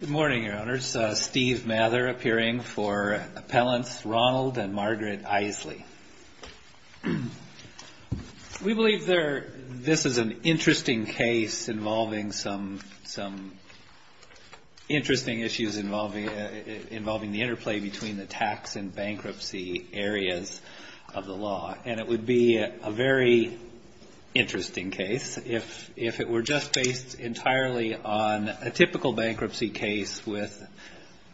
Good morning, Your Honors. Steve Mather appearing for appellants Ronald and Margaret Isley. We believe this is an interesting case involving some interesting issues involving the interplay between the tax and bankruptcy areas of the law, and it would be a very interesting case if it were just based entirely on a typical bankruptcy case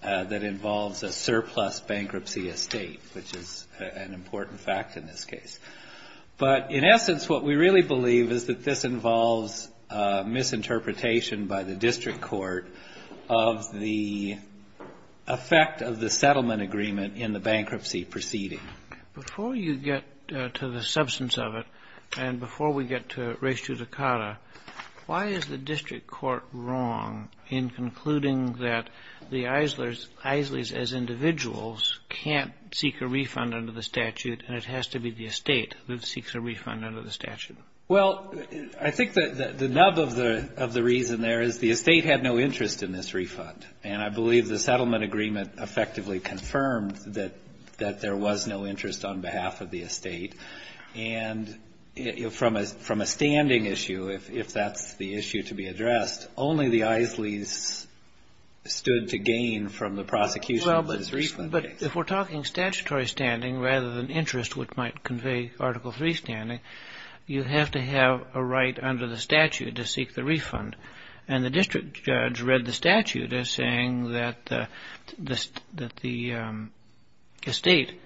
that involves a surplus bankruptcy estate, which is an important fact in this case. But in essence, what we really believe is that this involves misinterpretation by the district court of the effect of the settlement agreement in the bankruptcy proceeding. Before you get to the substance of it, and before we get to res judicata, why is the district court wrong in concluding that the Isleys, as individuals, can't seek a refund under the statute, and it has to be the estate that seeks a refund under the statute? Well, I think the nub of the reason there is the estate had no interest in this refund, and I believe the settlement agreement effectively confirmed that there was no interest on behalf of the estate, and from a standing issue, if that's the issue to be addressed, only the Isleys stood to gain from the prosecution of this refund case. If we're talking statutory standing rather than interest, which might convey Article III standing, you have to have a right under the statute to seek the refund, and the district judge read the statute as saying that the estate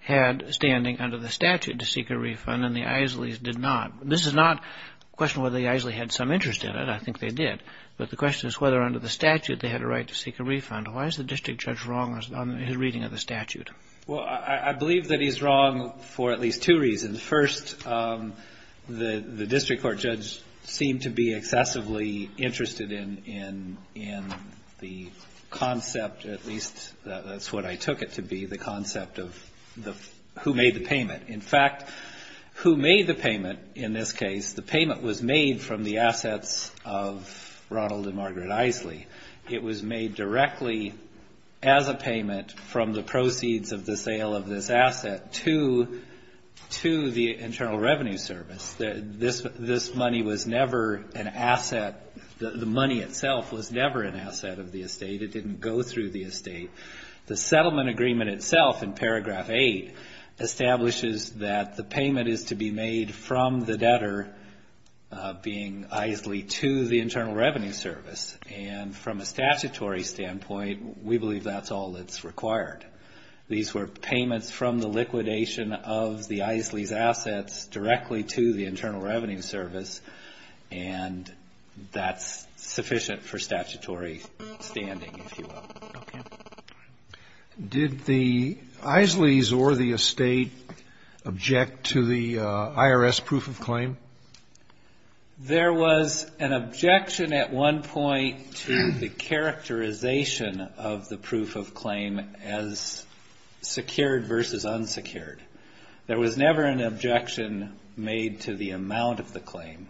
had standing under the statute to seek a refund, and the Isleys did not. This is not a question of whether the Isleys had some interest in it, I think they did, but the question is whether under the statute they had a right to seek a refund. Why is the district judge wrong on his reading of the statute? Well, I believe that he's wrong for at least two reasons. First, the district court judge seemed to be excessively interested in the concept, at least that's what I took it to be, the concept of who made the payment. In fact, who made the payment in this case, the payment was made from the assets of Ronald and Margaret Isley. It was made directly as a payment from the proceeds of the sale of this asset to the Internal Revenue Service. This money was never an asset, the money itself was never an asset of the estate, it didn't go through the estate. The settlement agreement itself in paragraph 8 establishes that the payment is to be made from the debtor, being Isley, to the Internal Revenue Service. And from a statutory standpoint, we believe that's all that's required. These were payments from the liquidation of the Isleys' assets directly to the Internal Revenue Service, and that's sufficient for statutory standing, if you will. Did the Isleys or the estate object to the IRS proof of claim? There was an objection at one point to the characterization of the proof of claim as secured versus unsecured. There was never an objection made to the amount of the claim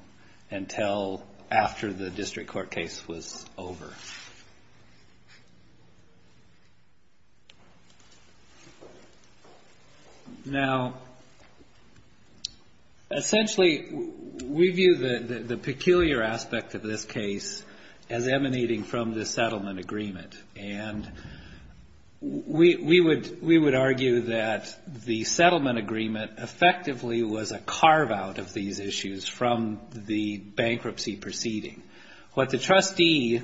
until after the district court case was over. Now, essentially, we view the peculiar aspect of this case as emanating from the settlement agreement. And we would argue that the settlement agreement effectively was a carve-out of these issues from the bankruptcy proceeding. What the trustee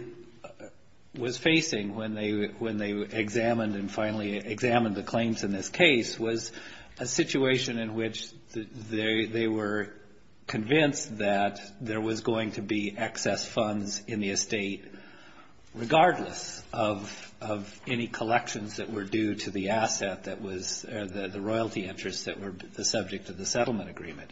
was facing when they examined and finally examined the claims in this case was a situation in which they were convinced that there was going to be excess funds in the estate regardless of any collections that were due to the asset that was, or the royalty interests that were the subject of the settlement agreement.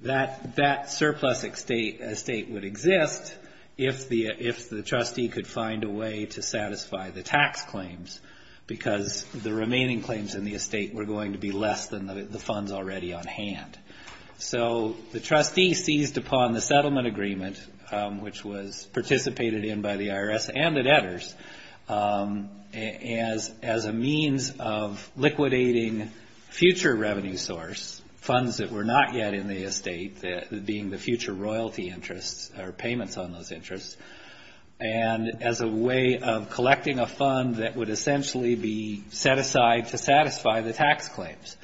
That surplus estate would exist if the trustee could find a way to satisfy the tax claims, because the remaining claims in the estate were going to be less than the funds already on hand. So the trustee seized upon the settlement agreement, which was participated in by the IRS and the debtors, as a means of liquidating future revenue source, funds that were not yet in the estate, being the future royalty interests or payments on those interests, and as a way of collecting a fund that would essentially be set aside to satisfy the tax claims.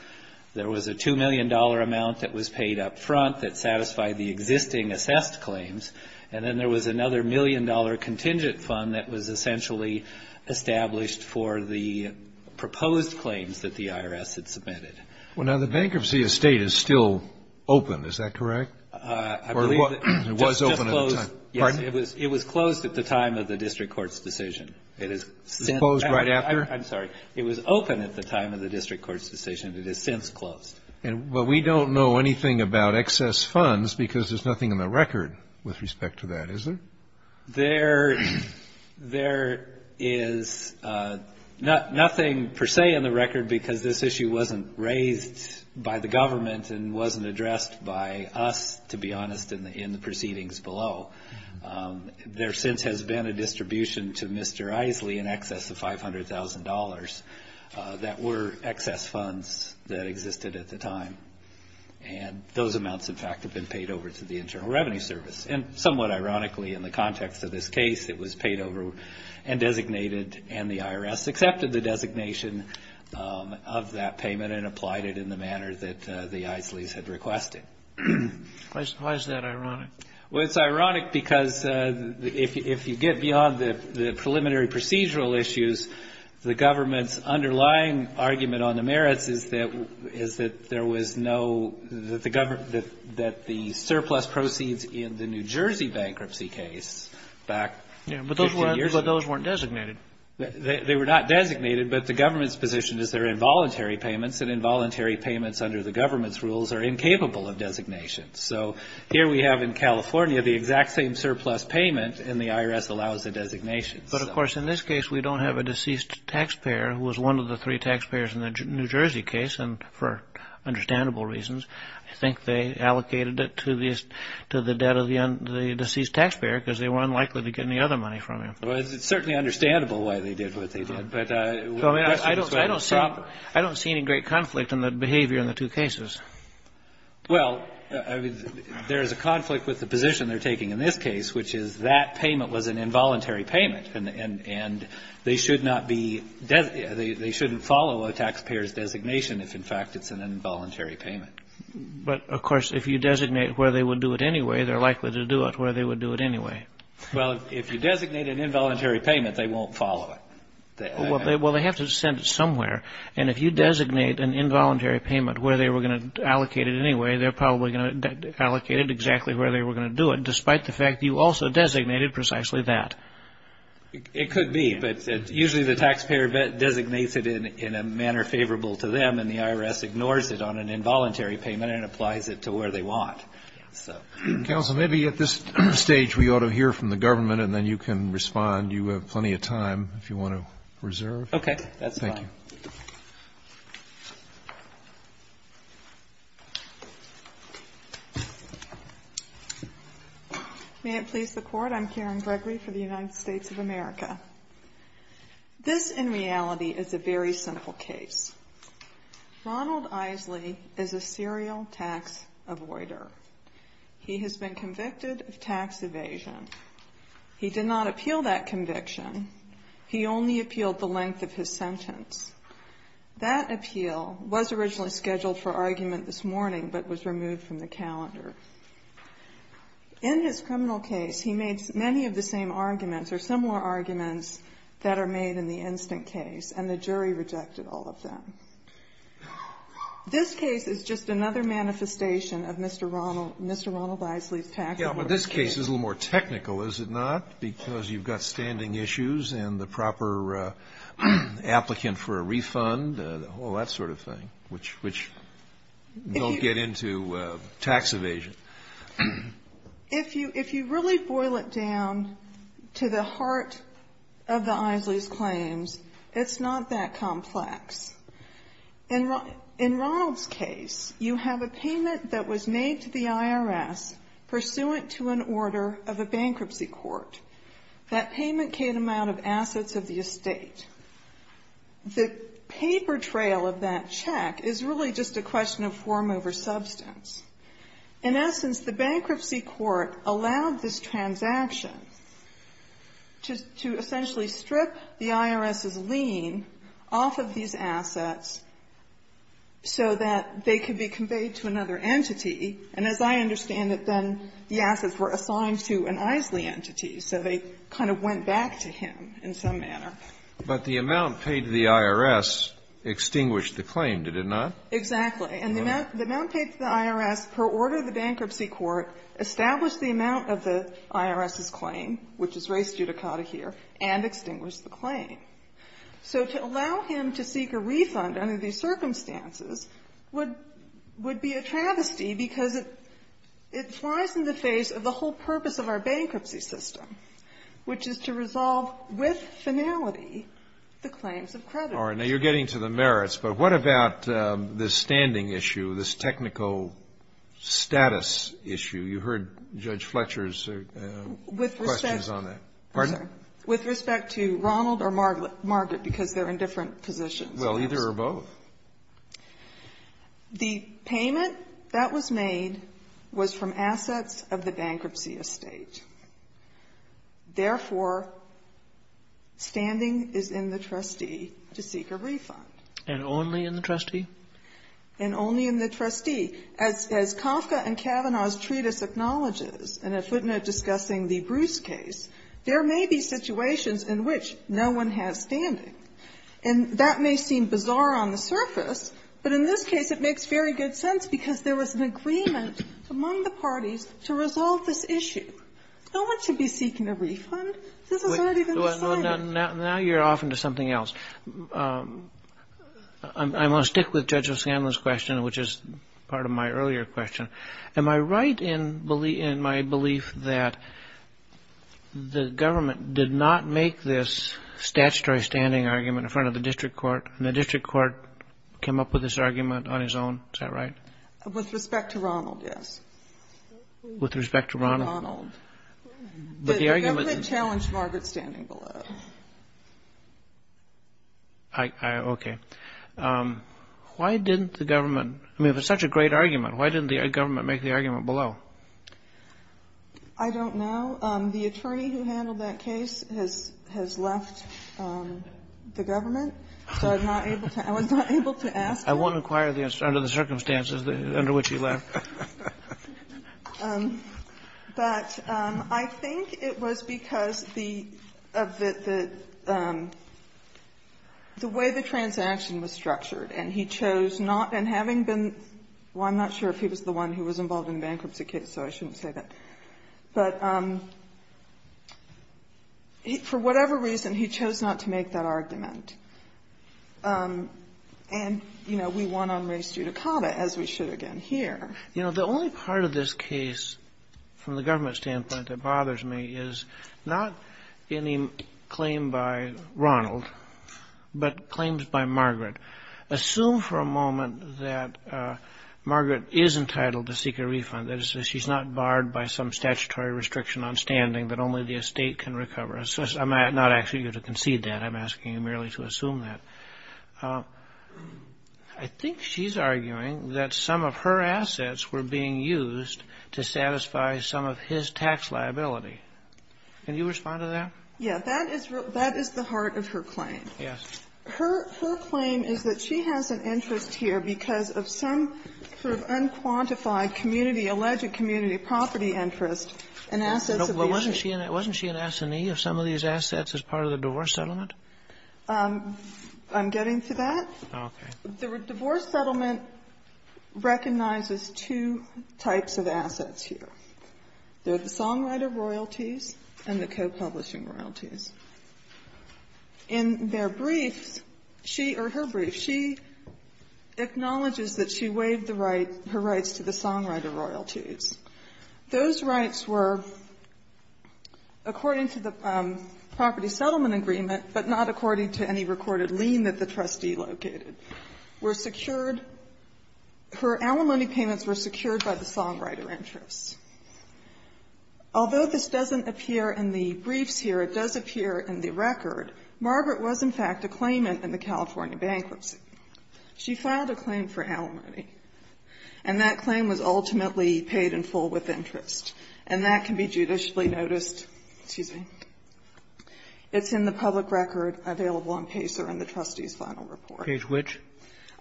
There was a $2 million amount that was paid up front that satisfied the existing assessed claims, and then there was another $1 million contingent fund that was essentially established for the proposed claims that the IRS had submitted. Well, now, the bankruptcy estate is still open. Is that correct? I believe that it was just closed. Pardon? It was closed at the time of the district court's decision. It was closed right after? I'm sorry. It was open at the time of the district court's decision. It has since closed. Well, we don't know anything about excess funds because there's nothing in the record with respect to that, is there? There is nothing per se in the record because this issue wasn't raised by the government and wasn't addressed by us, to be honest, in the proceedings below. There since has been a distribution to Mr. Isley in excess of $500,000 that were excess funds that existed at the time, and those amounts, in fact, have been paid over to the Internal Revenue Service. And somewhat ironically, in the context of this case, it was paid over and designated, and the IRS accepted the designation of that payment and applied it in the manner that the Isleys had requested. Why is that ironic? Well, it's ironic because if you get beyond the preliminary procedural issues, the government's underlying argument on the merits is that there was no, that the surplus proceeds in the New Jersey bankruptcy case back 15 years ago. Yeah, but those weren't designated. They were not designated, but the government's position is they're involuntary payments, and involuntary payments under the government's rules are incapable of designation. So here we have in California the exact same surplus payment, and the IRS allows the designation. But, of course, in this case we don't have a deceased taxpayer who was one of the three taxpayers in the New Jersey case, and for understandable reasons I think they allocated it to the deceased taxpayer because they were unlikely to get any other money from him. Well, it's certainly understandable why they did what they did. I don't see any great conflict in the behavior in the two cases. Well, there is a conflict with the position they're taking in this case, which is that payment was an involuntary payment, and they should not be they shouldn't follow a taxpayer's designation if, in fact, it's an involuntary payment. But, of course, if you designate where they would do it anyway, they're likely to do it where they would do it anyway. Well, if you designate an involuntary payment, they won't follow it. Well, they have to send it somewhere. And if you designate an involuntary payment where they were going to allocate it anyway, they're probably going to allocate it exactly where they were going to do it, despite the fact you also designated precisely that. It could be, but usually the taxpayer designates it in a manner favorable to them, and the IRS ignores it on an involuntary payment and applies it to where they want. Counsel, maybe at this stage we ought to hear from the government, and then you can respond. You have plenty of time if you want to reserve. Okay, that's fine. Thank you. May it please the Court, I'm Karen Gregory for the United States of America. This, in reality, is a very simple case. Ronald Isley is a serial tax avoider. He has been convicted of tax evasion. He did not appeal that conviction. He only appealed the length of his sentence. That appeal was originally scheduled for argument this morning, but was removed from the calendar. In his criminal case, he made many of the same arguments or similar arguments that are made in the instant case, and the jury rejected all of them. This case is just another manifestation of Mr. Ronald Isley's tax evasion. This case is a little more technical, is it not? Because you've got standing issues and the proper applicant for a refund, all that sort of thing, which don't get into tax evasion. If you really boil it down to the heart of the Isley's claims, it's not that complex. In Ronald's case, you have a payment that was made to the IRS pursuant to an order of a bankruptcy court. That payment came out of assets of the estate. The paper trail of that check is really just a question of form over substance. In essence, the bankruptcy court allowed this transaction to essentially strip the IRS's lien off of these assets so that they could be conveyed to another entity. And as I understand it, then the assets were assigned to an Isley entity, so they kind of went back to him in some manner. But the amount paid to the IRS extinguished the claim, did it not? Exactly. And the amount paid to the IRS per order of the bankruptcy court established the amount of the IRS's claim, which is raised judicata here, and extinguished the claim. So to allow him to seek a refund under these circumstances would be a travesty because it flies in the face of the whole purpose of our bankruptcy system, which is to resolve with finality the claims of creditors. Now, you're getting to the merits, but what about this standing issue, this technical status issue? You heard Judge Fletcher's questions on that. With respect to Ronald or Margaret, because they're in different positions. Well, either or both. The payment that was made was from assets of the bankruptcy estate. Therefore, standing is in the trustee to seek a refund. And only in the trustee? And only in the trustee. As Kafka and Kavanaugh's treatise acknowledges, and a footnote discussing the Bruce case, there may be situations in which no one has standing. And that may seem bizarre on the surface, but in this case it makes very good sense because there was an agreement among the parties to resolve this issue. No one should be seeking a refund. This has already been decided. Now you're off into something else. I'm going to stick with Judge O'Scanlan's question, which is part of my earlier question. Am I right in my belief that the government did not make this statutory standing argument in front of the district court, and the district court came up with this argument on his own? Is that right? With respect to Ronald, yes. With respect to Ronald? Ronald. The government challenged Margaret's standing below. Okay. Why didn't the government — I mean, if it's such a great argument, why didn't the government make the argument below? I don't know. The attorney who handled that case has left the government, so I'm not able to — I was not able to ask him. I won't inquire under the circumstances under which he left. But I think it was because of the way the transaction was structured, and he chose not — and having been — well, I'm not sure if he was the one who was involved in the bankruptcy case, so I shouldn't say that. But for whatever reason, he chose not to make that argument. And, you know, we won on res judicata, as we should again here. You know, the only part of this case, from the government standpoint, that bothers me is not any claim by Ronald, but claims by Margaret. Assume for a moment that Margaret is entitled to seek a refund. That is, she's not barred by some statutory restriction on standing that only the estate can recover. I'm not asking you to concede that. I'm asking you merely to assume that. I think she's arguing that some of her assets were being used to satisfy some of his tax liability. Can you respond to that? Yeah. That is the heart of her claim. Yes. Her claim is that she has an interest here because of some sort of unquantified community, alleged community property interest and assets of the estate. Wasn't she an assinee of some of these assets as part of the divorce settlement? I'm getting to that. Okay. The divorce settlement recognizes two types of assets here. There are the songwriter royalties and the copublishing royalties. In their briefs, she or her brief, she acknowledges that she waived the right, her rights to the songwriter royalties. Those rights were, according to the property settlement agreement, but not according to any recorded lien that the trustee located, were secured. Her alimony payments were secured by the songwriter interests. Although this doesn't appear in the briefs here, it does appear in the record. Margaret was, in fact, a claimant in the California bankruptcy. She filed a claim for alimony. And that claim was ultimately paid in full with interest. And that can be judicially noticed. Excuse me. It's in the public record available on Pacer in the trustee's final report. Page which?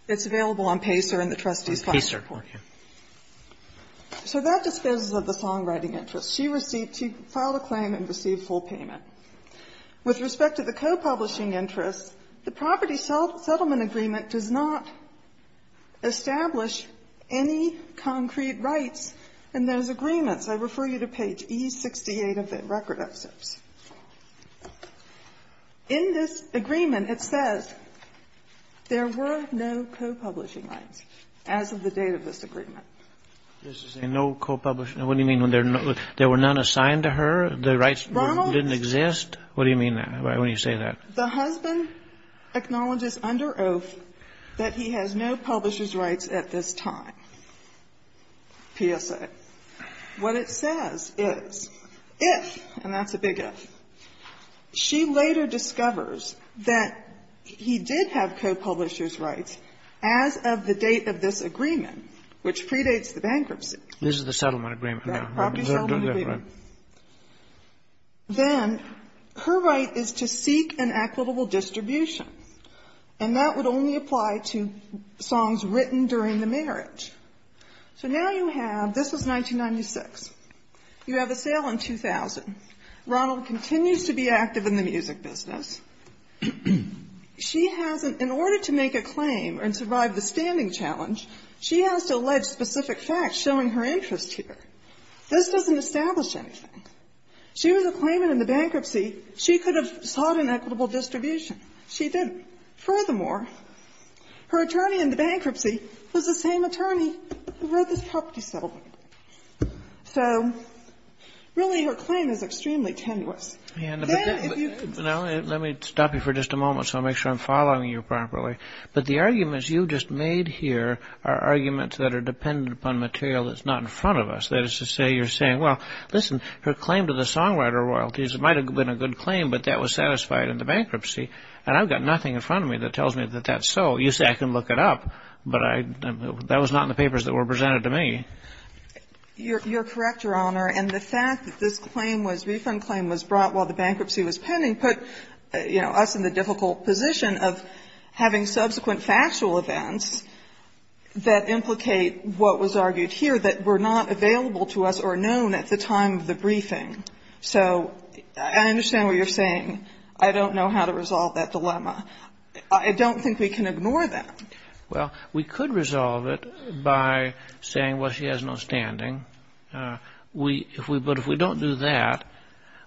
It's available on Pacer in the trustee's final report. Pacer. Okay. So that disposes of the songwriting interests. She received to file a claim and received full payment. With respect to the copublishing interests, the property settlement agreement does not establish any concrete rights in those agreements. I refer you to page E68 of the record of those. In this agreement, it says there were no copublishing rights as of the date of this agreement. No copublishing. What do you mean when there were none assigned to her? The rights didn't exist? What do you mean when you say that? The husband acknowledges under oath that he has no publisher's rights at this time. PSA. What it says is, if, and that's a big if, she later discovers that he did have copublishers rights as of the date of this agreement, which predates the bankruptcy. This is the settlement agreement. The property settlement agreement. Then her right is to seek an equitable distribution. And that would only apply to songs written during the marriage. So now you have, this was 1996. You have a sale in 2000. Ronald continues to be active in the music business. She has an, in order to make a claim and survive the standing challenge, she has to allege specific facts showing her interest here. This doesn't establish anything. She was a claimant in the bankruptcy. She could have sought an equitable distribution. She didn't. Furthermore, her attorney in the bankruptcy was the same attorney who wrote this property settlement. So really her claim is extremely tenuous. Then if you could. Let me stop you for just a moment so I'll make sure I'm following you properly. But the arguments you just made here are arguments that are dependent upon material that's not in front of us. That is to say you're saying, well, listen, her claim to the songwriter royalties might have been a good claim, but that was satisfied in the bankruptcy. And I've got nothing in front of me that tells me that that's so. You say I can look it up, but I, that was not in the papers that were presented to me. You're correct, Your Honor. And the fact that this claim was, refund claim was brought while the bankruptcy was pending put, you know, us in the difficult position of having subsequent factual events that implicate what was argued here that were not available to us or known at the time of the briefing. So I understand what you're saying. I don't know how to resolve that dilemma. I don't think we can ignore that. Well, we could resolve it by saying, well, she has no standing. We, if we, but if we don't do that,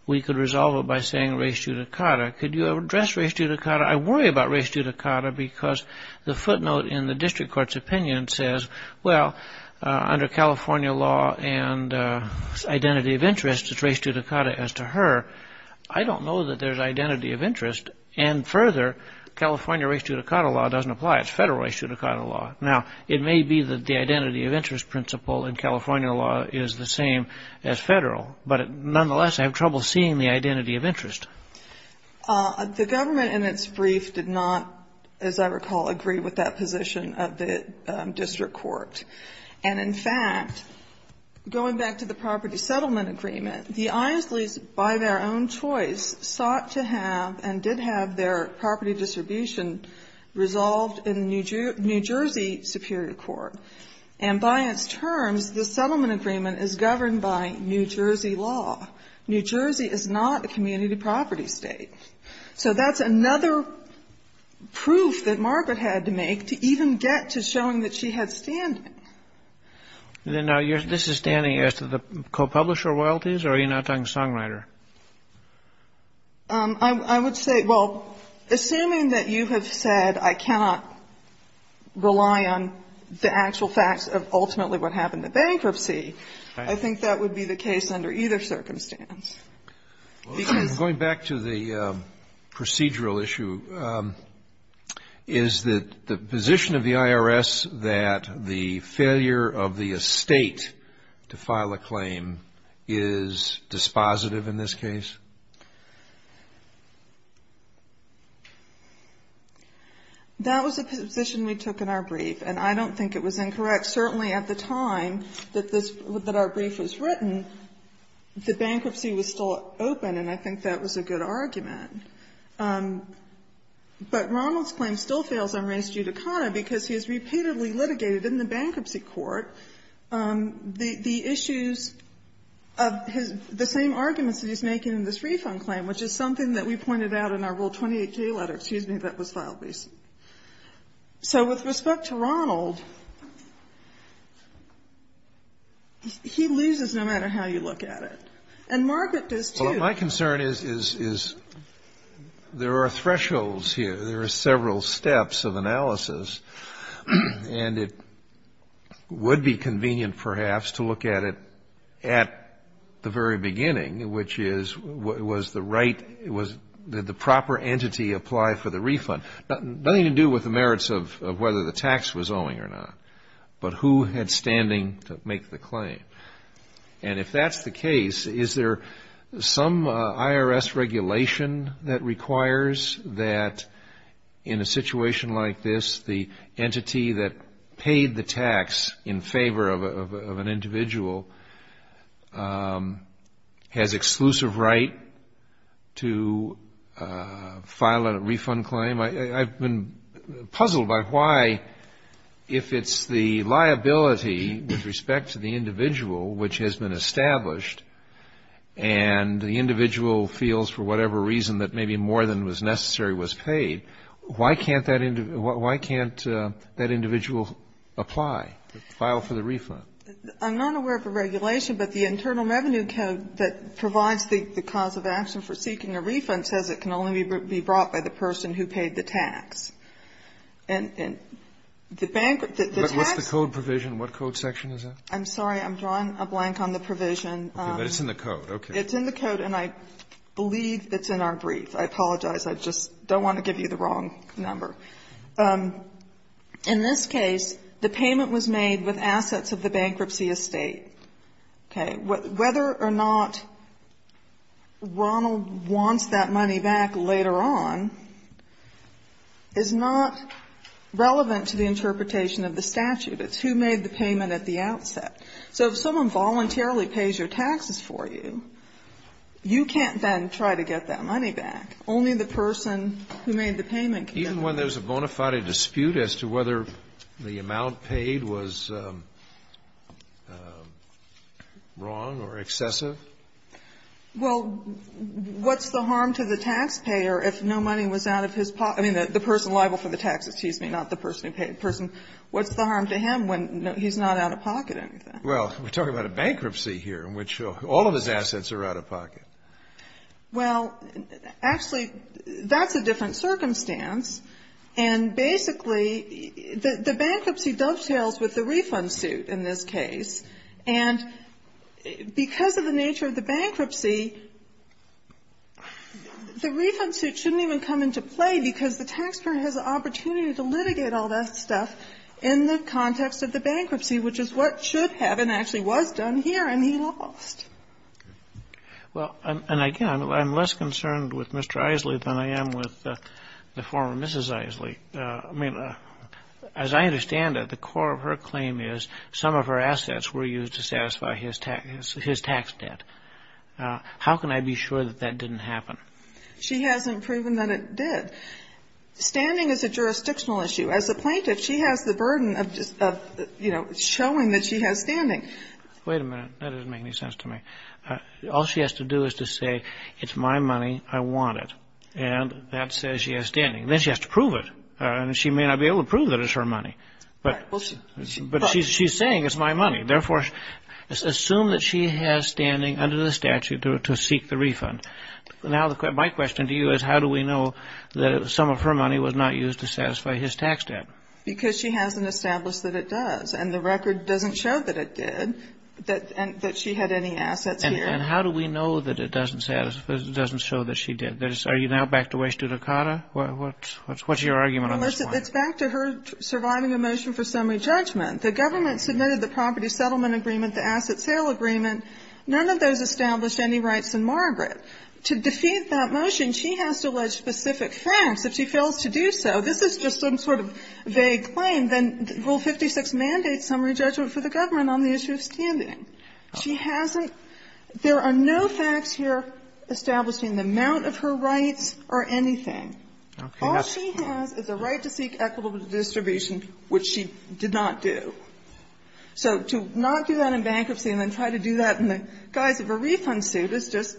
we could resolve it by saying race judicata. Could you address race judicata? I worry about race judicata because the footnote in the district court's opinion says, well, under California law and identity of interest, it's race judicata as to her. I don't know that there's identity of interest. And further, California race judicata law doesn't apply. It's federal race judicata law. Now, it may be that the identity of interest principle in California law is the same as federal, but nonetheless, I have trouble seeing the identity of interest. The government in its brief did not, as I recall, agree with that position of the district court. And in fact, going back to the property settlement agreement, the Isleys, by their own choice, sought to have and did have their property distribution resolved in the New Jersey Superior Court. And by its terms, the settlement agreement is governed by New Jersey law. New Jersey is not a community property state. So that's another proof that Margaret had to make to even get to showing that she had standing. And then now, this is standing as to the co-publisher royalties, or are you now talking songwriter? I would say, well, assuming that you have said I cannot rely on the actual facts of ultimately what happened to bankruptcy, I think that would be the case under either circumstance. Because going back to the procedural issue, is the position of the IRS that the failure of the estate to file a claim is dispositive in this case? That was a position we took in our brief, and I don't think it was incorrect. Certainly at the time that this, that our brief was written, the bankruptcy was still open, and I think that was a good argument. But Ronald's claim still fails on Reince Jude O'Connor, because he has repeatedly litigated in the bankruptcy court the issues of his, the same arguments that he's making in this refund claim, which is something that we pointed out in our Rule 28J letter, excuse me, that was filed recently. So with respect to Ronald, he loses no matter how you look at it. And Margaret does, too. Well, my concern is, is there are thresholds here. There are several steps of analysis, and it would be convenient, perhaps, to look at it at the very beginning, which is, was the right, was, did the proper entity apply for the refund? Nothing to do with the merits of whether the tax was owing or not, but who had standing to make the claim. And if that's the case, is there some IRS regulation that requires that in a situation like this, the entity that paid the tax in favor of an individual has exclusive right to file a refund claim? I've been puzzled by why, if it's the liability with respect to the individual which has been established, and the individual feels for whatever reason that maybe more than was necessary was paid, why can't that individual apply to file for the refund? I'm not aware of a regulation, but the Internal Revenue Code that provides the cause of action for seeking a refund says it can only be brought by the person who paid the tax. And the bank, the tax What's the code provision? What code section is that? I'm sorry. I'm drawing a blank on the provision. But it's in the code. Okay. It's in the code, and I believe it's in our brief. I apologize. I just don't want to give you the wrong number. In this case, the payment was made with assets of the bankruptcy estate. Okay. Whether or not Ronald wants that money back later on is not relevant to the interpretation of the statute. It's who made the payment at the outset. So if someone voluntarily pays your taxes for you, you can't then try to get that money back. Only the person who made the payment can get it back. Even when there's a bona fide dispute as to whether the amount paid was wrong or excessive? Well, what's the harm to the taxpayer if no money was out of his pocket? I mean, the person liable for the tax, excuse me, not the person who paid. The person, what's the harm to him when he's not out of pocket or anything? Well, we're talking about a bankruptcy here in which all of his assets are out of pocket. Well, actually, that's a different circumstance. And basically, the bankruptcy dovetails with the refund suit in this case. And because of the nature of the bankruptcy, the refund suit shouldn't even come into play because the taxpayer has the opportunity to litigate all that stuff in the context of the bankruptcy, which is what should have and actually was done here, and he lost. Well, and again, I'm less concerned with Mr. Isley than I am with the former Mrs. Isley. I mean, as I understand it, the core of her claim is some of her assets were used to satisfy his tax debt. How can I be sure that that didn't happen? She hasn't proven that it did. Standing is a jurisdictional issue. As a plaintiff, she has the burden of, you know, showing that she has standing. Wait a minute. That doesn't make any sense to me. All she has to do is to say, it's my money, I want it. And that says she has standing. Then she has to prove it. And she may not be able to prove that it's her money, but she's saying it's my money. Therefore, assume that she has standing under the statute to seek the refund. Now, my question to you is how do we know that some of her money was not used to satisfy his tax debt? Because she hasn't established that it does. And the record doesn't show that it did, that she had any assets here. And how do we know that it doesn't show that she did? Are you now back to way Stutakata? What's your argument on this point? It's back to her surviving a motion for summary judgment. The government submitted the property settlement agreement, the asset sale agreement. None of those established any rights in Margaret. To defeat that motion, she has to allege specific facts. If she fails to do so, this is just some sort of vague claim. And then Rule 56 mandates summary judgment for the government on the issue of standing. She hasn't – there are no facts here establishing the amount of her rights or anything. All she has is a right to seek equitable distribution, which she did not do. So to not do that in bankruptcy and then try to do that in the guise of a refund suit is just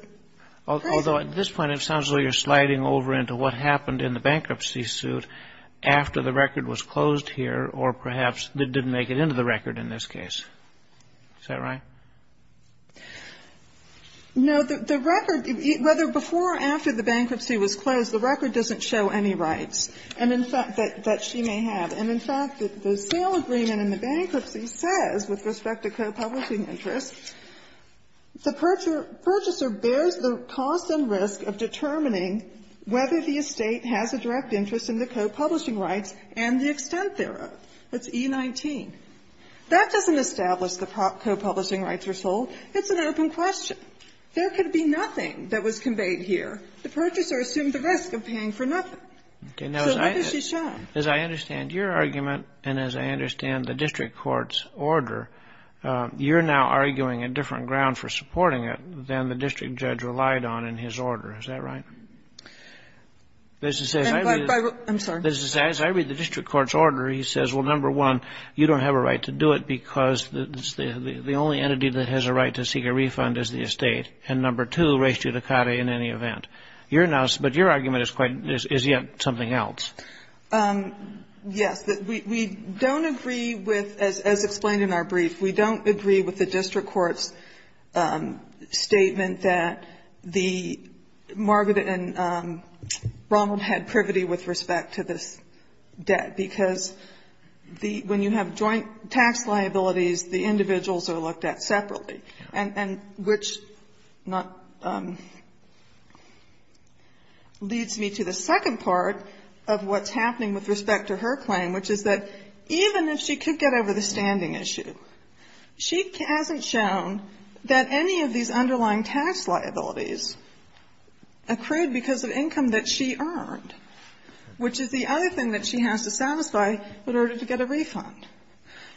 crazy. Although at this point it sounds like you're sliding over into what happened in the bankruptcy suit after the record was closed here or perhaps didn't make it into the record in this case. Is that right? No. The record, whether before or after the bankruptcy was closed, the record doesn't show any rights. And in fact, that she may have. And in fact, the sale agreement in the bankruptcy says, with respect to co-publishing interests, the purchaser bears the cost and risk of determining whether the estate has a direct interest in the co-publishing rights and the extent thereof. That's E19. That doesn't establish the co-publishing rights are sold. It's an open question. There could be nothing that was conveyed here. The purchaser assumed the risk of paying for nothing. So what does she show? As I understand your argument and as I understand the district court's order, you're now arguing a different ground for supporting it than the district judge relied on in his order. Is that right? I'm sorry. As I read the district court's order, he says, well, number one, you don't have a right to do it because the only entity that has a right to seek a refund is the estate. And number two, res judicata in any event. You're now so But your argument is quite, is yet something else. Yes. We don't agree with, as explained in our brief, we don't agree with the district court's statement that the, Margaret and Ronald had privity with respect to this debt, because the, when you have joint tax liabilities, the individuals are looked at separately. And which not, leads me to the second part of what's happening with respect to her claim, which is that even if she could get over the standing issue, she hasn't shown that any of these underlying tax liabilities accrued because of income that she earned, which is the other thing that she has to satisfy in order to get a refund.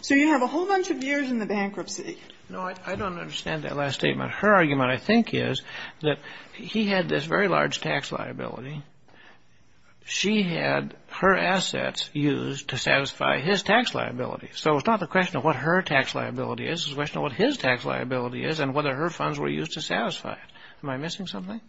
So you have a whole bunch of years in the bankruptcy. No, I don't understand that last statement. Her argument, I think, is that he had this very large tax liability. She had her assets used to satisfy his tax liability. So it's not the question of what her tax liability is. It's the question of what his tax liability is and whether her funds were used to satisfy it. Am I missing something?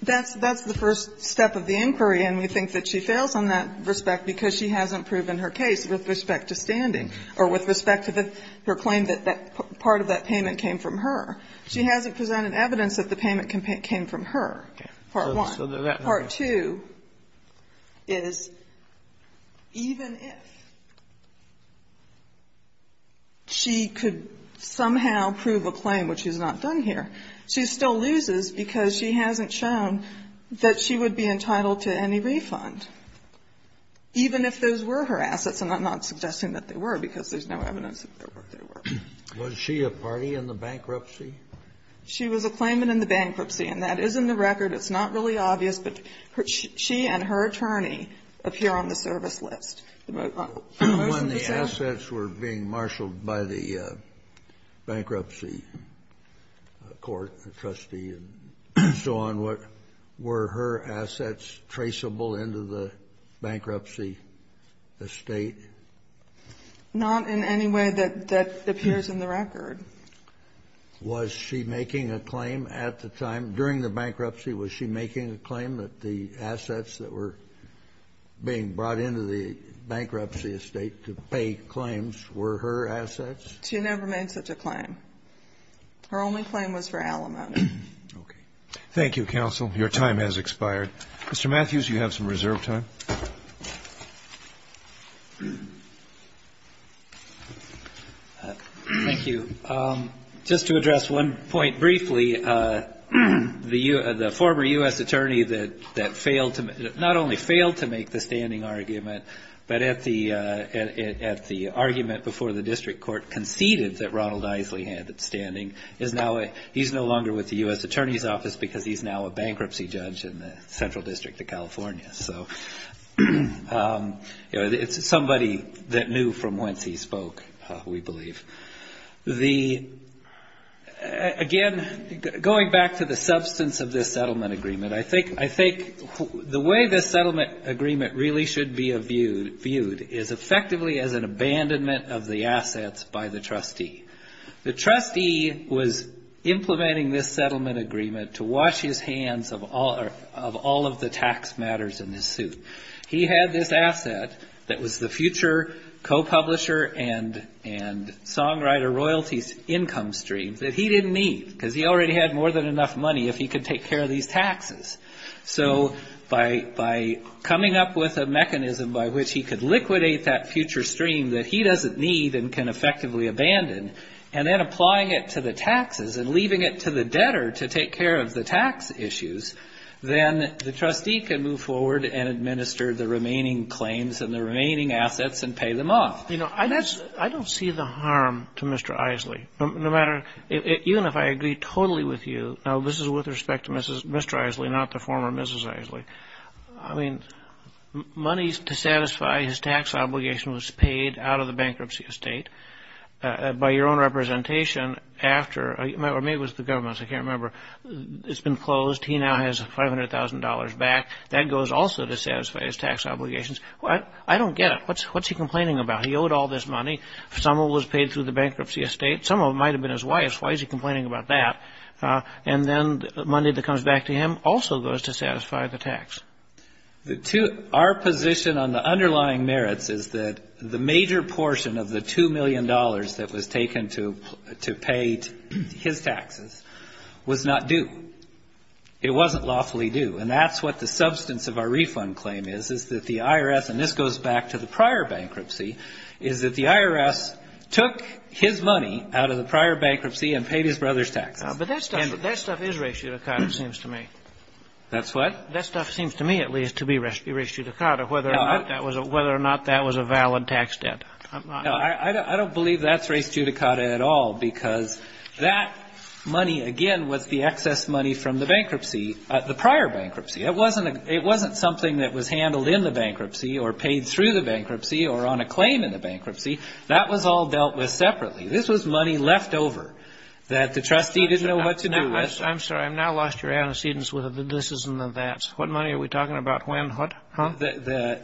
That's the first step of the inquiry, and we think that she fails on that respect because she hasn't proven her case with respect to standing or with respect to her claim that that part of that payment came from her. She hasn't presented evidence that the payment came from her, part one. Part two is even if she could somehow prove a claim, which is not done here, she still loses because she hasn't shown that she would be entitled to any refund, even if those were her assets. And I'm not suggesting that they were, because there's no evidence that they were. Kennedy, was she a party in the bankruptcy? She was a claimant in the bankruptcy, and that is in the record. It's not really obvious, but she and her attorney appear on the service list. The most recent assets were being marshaled by the bankruptcy court, the trustee and so on. Were her assets traceable into the bankruptcy estate? Not in any way that appears in the record. Was she making a claim at the time, during the bankruptcy, was she making a claim that the assets that were being brought into the bankruptcy estate to pay claims were her assets? She never made such a claim. Her only claim was for Alamode. Okay. Thank you, counsel. Your time has expired. Mr. Matthews, you have some reserve time. Thank you. Just to address one point briefly, the former U.S. attorney that not only failed to make the standing argument, but at the argument before the district court conceded that Ronald Isley had standing, he's no longer with the U.S. Attorney's Office because he's now a bankruptcy judge in the Central District of California. So it's somebody that knew from whence he spoke, we believe. Again, going back to the substance of this settlement agreement, I think the way this settlement agreement really should be viewed is effectively as an abandonment of the assets by the trustee. The trustee was implementing this settlement agreement to wash his hands of all of the tax matters in this suit. He had this asset that was the future co-publisher and songwriter royalties income stream that he didn't need because he already had more than enough money if he could take care of these taxes. So by coming up with a mechanism by which he could liquidate that future stream that he doesn't need and can effectively abandon, and then applying it to the taxes and leaving it to the debtor to take care of the tax issues, then the trustee can move forward and administer the remaining claims and the remaining assets and pay them off. You know, I don't see the harm to Mr. Isley, no matter, even if I agree totally with you. Now, this is with respect to Mr. Isley, not the former Mrs. Isley. I mean, money to satisfy his tax obligation was paid out of the bankruptcy estate by your own representation after, or maybe it was the government's, I can't remember, it's been closed. He now has $500,000 back. That goes also to satisfy his tax obligations. I don't get it. What's he complaining about? He owed all this money. Some of it was paid through the bankruptcy estate. Some of it might have been his wife's. Why is he complaining about that? And then the money that comes back to him also goes to satisfy the tax. The two, our position on the underlying merits is that the major portion of the $2 million that was taken to pay his taxes was not due. It wasn't lawfully due. And that's what the substance of our refund claim is, is that the IRS, and this goes back to the prior bankruptcy, is that the IRS took his money out of the prior bankruptcy and paid his brother's taxes. But that stuff is ratio to kind of seems to me. That's what? That stuff seems to me, at least, to be ratio to kind of whether or not that was a valid tax debt. I don't believe that's ratio to kind of at all, because that money, again, was the excess money from the bankruptcy, the prior bankruptcy. It wasn't something that was handled in the bankruptcy or paid through the bankruptcy or on a claim in the bankruptcy. That was all dealt with separately. This was money left over that the trustee didn't know what to do with. I'm sorry. I've now lost your antecedents with the this's and the that's. What money are we talking about? When? What? Huh? The,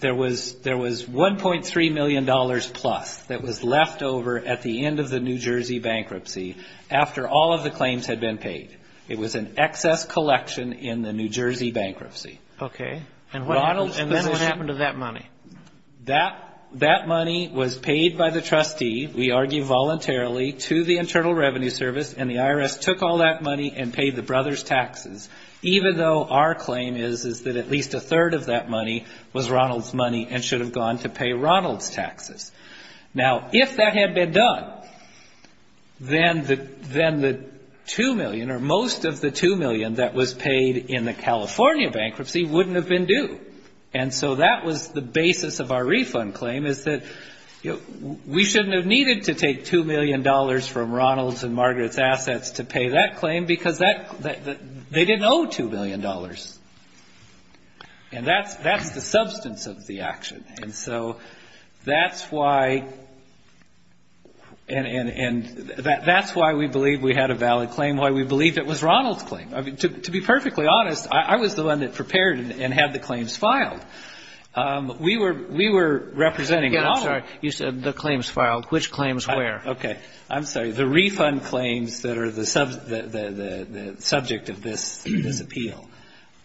there was $1.3 million plus that was left over at the end of the New Jersey bankruptcy after all of the claims had been paid. It was an excess collection in the New Jersey bankruptcy. Okay. And what happened to that money? That money was paid by the trustee, we argue voluntarily, to the Internal Revenue Service. And the IRS took all that money and paid the brothers' taxes, even though our claim is, is that at least a third of that money was Ronald's money and should have gone to pay Ronald's taxes. Now, if that had been done, then the $2 million or most of the $2 million that was paid in the California bankruptcy wouldn't have been due. And so that was the basis of our refund claim, is that we shouldn't have needed to take $2 million as part of its assets to pay that claim because that, they didn't owe $2 million. And that's, that's the substance of the action. And so that's why, and, and, and that's why we believe we had a valid claim, why we believe it was Ronald's claim. I mean, to, to be perfectly honest, I was the one that prepared and had the claims filed. We were, we were representing Ronald. I'm sorry. You said the claims filed. Which claims where? Okay. I'm sorry, the refund claims that are the, the, the, the subject of this, this appeal.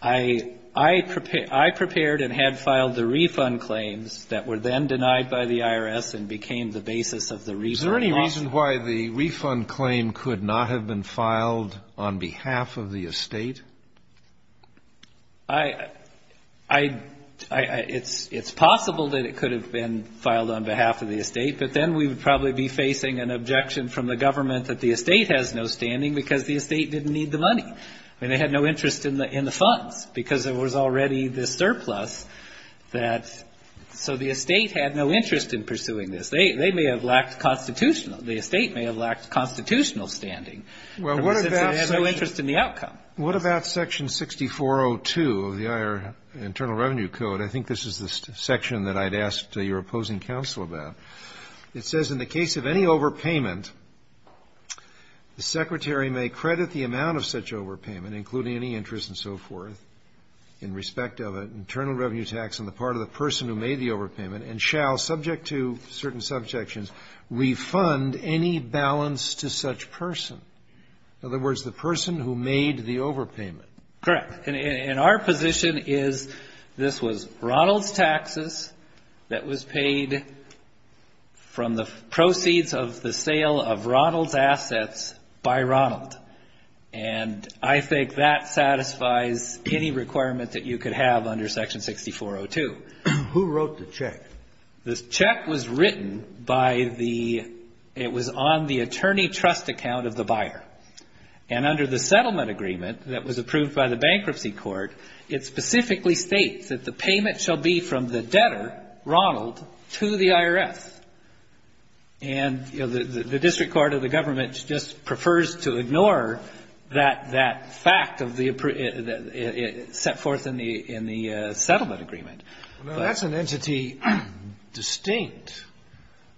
I, I prepared, I prepared and had filed the refund claims that were then denied by the IRS and became the basis of the refund law. Is there any reason why the refund claim could not have been filed on behalf of the estate? I, I, I, it's, it's possible that it could have been filed on behalf of the estate. But then we would probably be facing an objection from the government that the estate has no standing because the estate didn't need the money. I mean, they had no interest in the, in the funds because there was already the surplus that, so the estate had no interest in pursuing this. They, they may have lacked constitutional, the estate may have lacked constitutional standing. Well, what about. If it had no interest in the outcome. What about section 6402 of the IR, Internal Revenue Code? I think this is the section that I'd ask to your opposing counsel about. It says, in the case of any overpayment, the secretary may credit the amount of such overpayment, including any interest and so forth. In respect of an internal revenue tax on the part of the person who made the overpayment and shall, subject to certain subjections, refund any balance to such person. In other words, the person who made the overpayment. Correct. And in our position is, this was Ronald's taxes that was paid from the proceeds of the sale of Ronald's assets by Ronald. And I think that satisfies any requirement that you could have under section 6402. Who wrote the check? This check was written by the, it was on the attorney trust account of the buyer. And under the settlement agreement that was approved by the bankruptcy court, it specifically states that the payment shall be from the debtor, Ronald, to the IRS. And, you know, the district court of the government just prefers to ignore that fact of the, set forth in the settlement agreement. Now, that's an entity distinct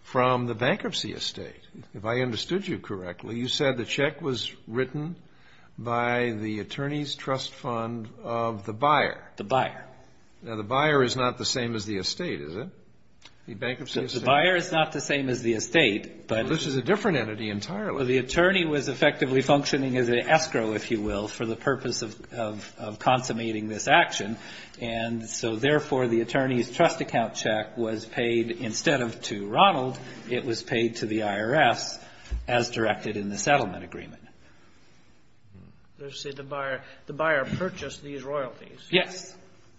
from the bankruptcy estate, if I understood you correctly. Well, you said the check was written by the attorney's trust fund of the buyer. The buyer. Now, the buyer is not the same as the estate, is it? The bankruptcy estate. The buyer is not the same as the estate, but. This is a different entity entirely. The attorney was effectively functioning as an escrow, if you will, for the purpose of consummating this action. And so, therefore, the attorney's trust account check was paid, instead of to Ronald, it was paid to the IRS as directed in the settlement agreement. Let's say the buyer, the buyer purchased these royalties. Yes.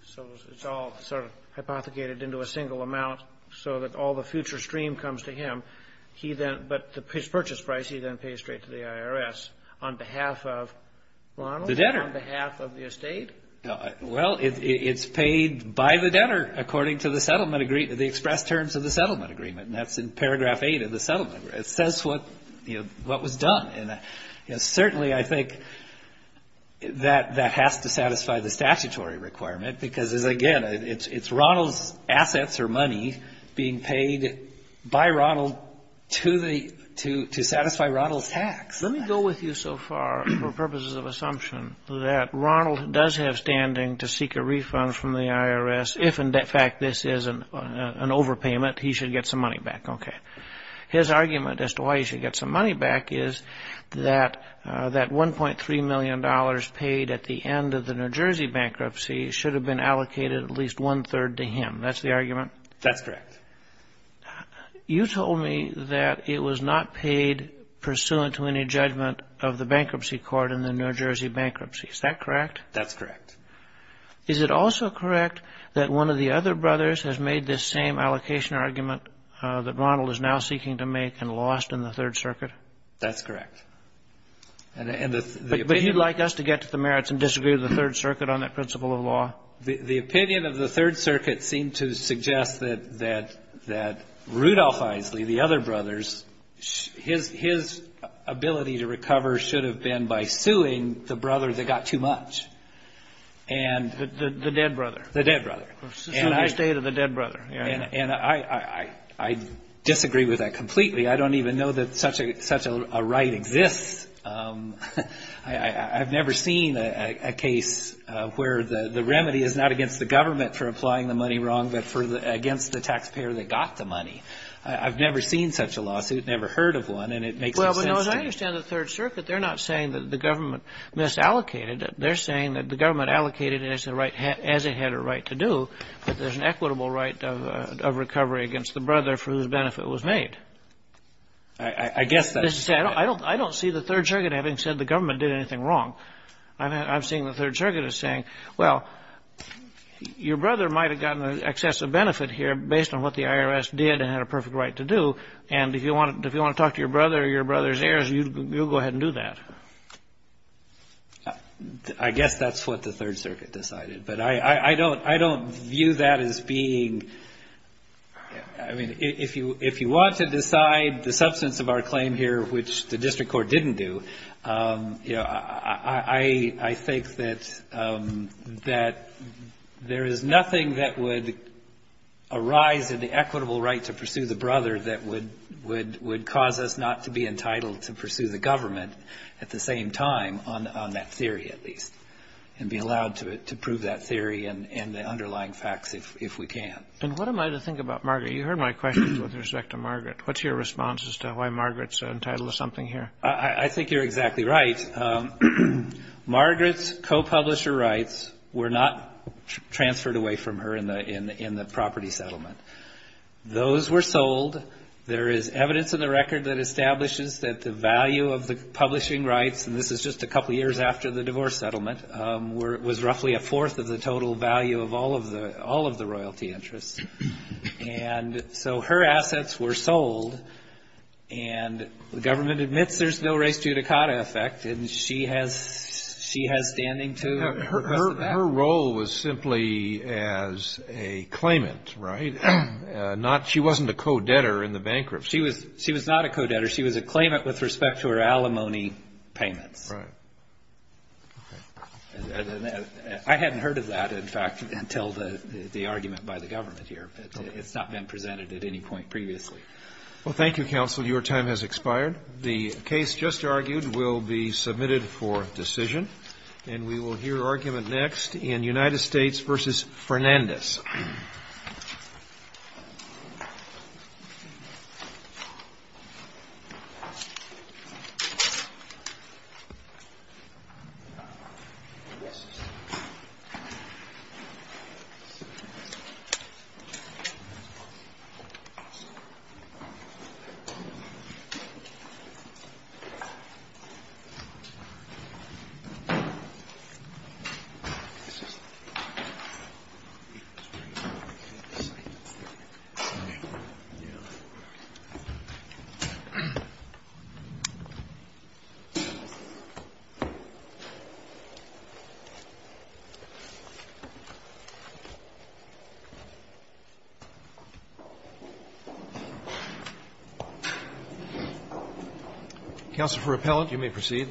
So it's all sort of hypothecated into a single amount so that all the future stream comes to him. He then, but his purchase price, he then pays straight to the IRS on behalf of Ronald, on behalf of the estate? Well, it's paid by the debtor, according to the settlement agreement, the express terms of the settlement agreement. And that's in paragraph eight of the settlement. It says what, you know, what was done. And certainly, I think that that has to satisfy the statutory requirement because, again, it's Ronald's assets or money being paid by Ronald to the, to satisfy Ronald's tax. Let me go with you so far for purposes of assumption that Ronald does have standing to seek a refund from the IRS if, in fact, this is an overpayment. He should get some money back. OK. His argument as to why he should get some money back is that that one point three million dollars paid at the end of the New Jersey bankruptcy should have been allocated at least one third to him. That's the argument. That's correct. You told me that it was not paid pursuant to any judgment of the bankruptcy court in the New Jersey bankruptcy. Is that correct? That's correct. Is it also correct that one of the other brothers has made this same allocation argument that Ronald is now seeking to make and lost in the Third Circuit? That's correct. And the opinion. Would you like us to get to the merits and disagree with the Third Circuit on that principle of law? The opinion of the Third Circuit seemed to suggest that, that, that Rudolph Isley, the other brothers, his, his ability to recover should have been by suing the brother that got too much. And the dead brother, the dead brother, the state of the dead brother. And I, I disagree with that completely. I don't even know that such a such a right exists. I've never seen a case where the remedy is not against the government for applying the money wrong, but for the against the taxpayer that got the money. I've never seen such a lawsuit, never heard of one. And it makes sense. Well, as I understand the Third Circuit, they're not saying that the government misallocated it. They're saying that the government allocated it as the right, as it had a right to do. But there's an equitable right of recovery against the brother for whose benefit was made. I guess that's. I don't, I don't see the Third Circuit having said the government did anything wrong. I mean, I've seen the Third Circuit is saying, well, your brother might have gotten an excessive benefit here based on what the IRS did and had a perfect right to do. And if you want, if you want to talk to your brother or your brother's heirs, you go ahead and do that. I guess that's what the Third Circuit decided. But I, I don't, I don't view that as being. I mean, if you, if you want to decide the substance of our claim here, which the district court didn't do, you know, I, I think that, that there is nothing that would arise in the equitable right to pursue the brother that would, would, would cause us not to be entitled to pursue the government at the same time on that theory, at least, and be allowed to prove that theory and the underlying facts if we can. And what am I to think about Margaret? You heard my questions with respect to Margaret. What's your response as to why Margaret's entitled to something here? I think you're exactly right. Margaret's co-publisher rights were not transferred away from her in the, in the, in the property settlement. Those were sold. There is evidence in the record that establishes that the value of the publishing rights, and this is just a couple of years after the divorce settlement, was roughly a fourth of the total value of all of the, all of the royalty interests. And so her assets were sold and the government admits there's no res judicata effect. And she has, she has standing to, her, her, her role was simply as a claimant, right? Not, she wasn't a co-debtor in the bankruptcy. She was, she was not a co-debtor. She was a claimant with respect to her alimony payments. Right. I hadn't heard of that, in fact, until the, the argument by the government here, but it's not been presented at any point previously. Well, thank you, counsel. Your time has expired. The case just argued will be submitted for decision and we will hear argument next in United States versus Fernandez. Counsel for appellant, you may proceed.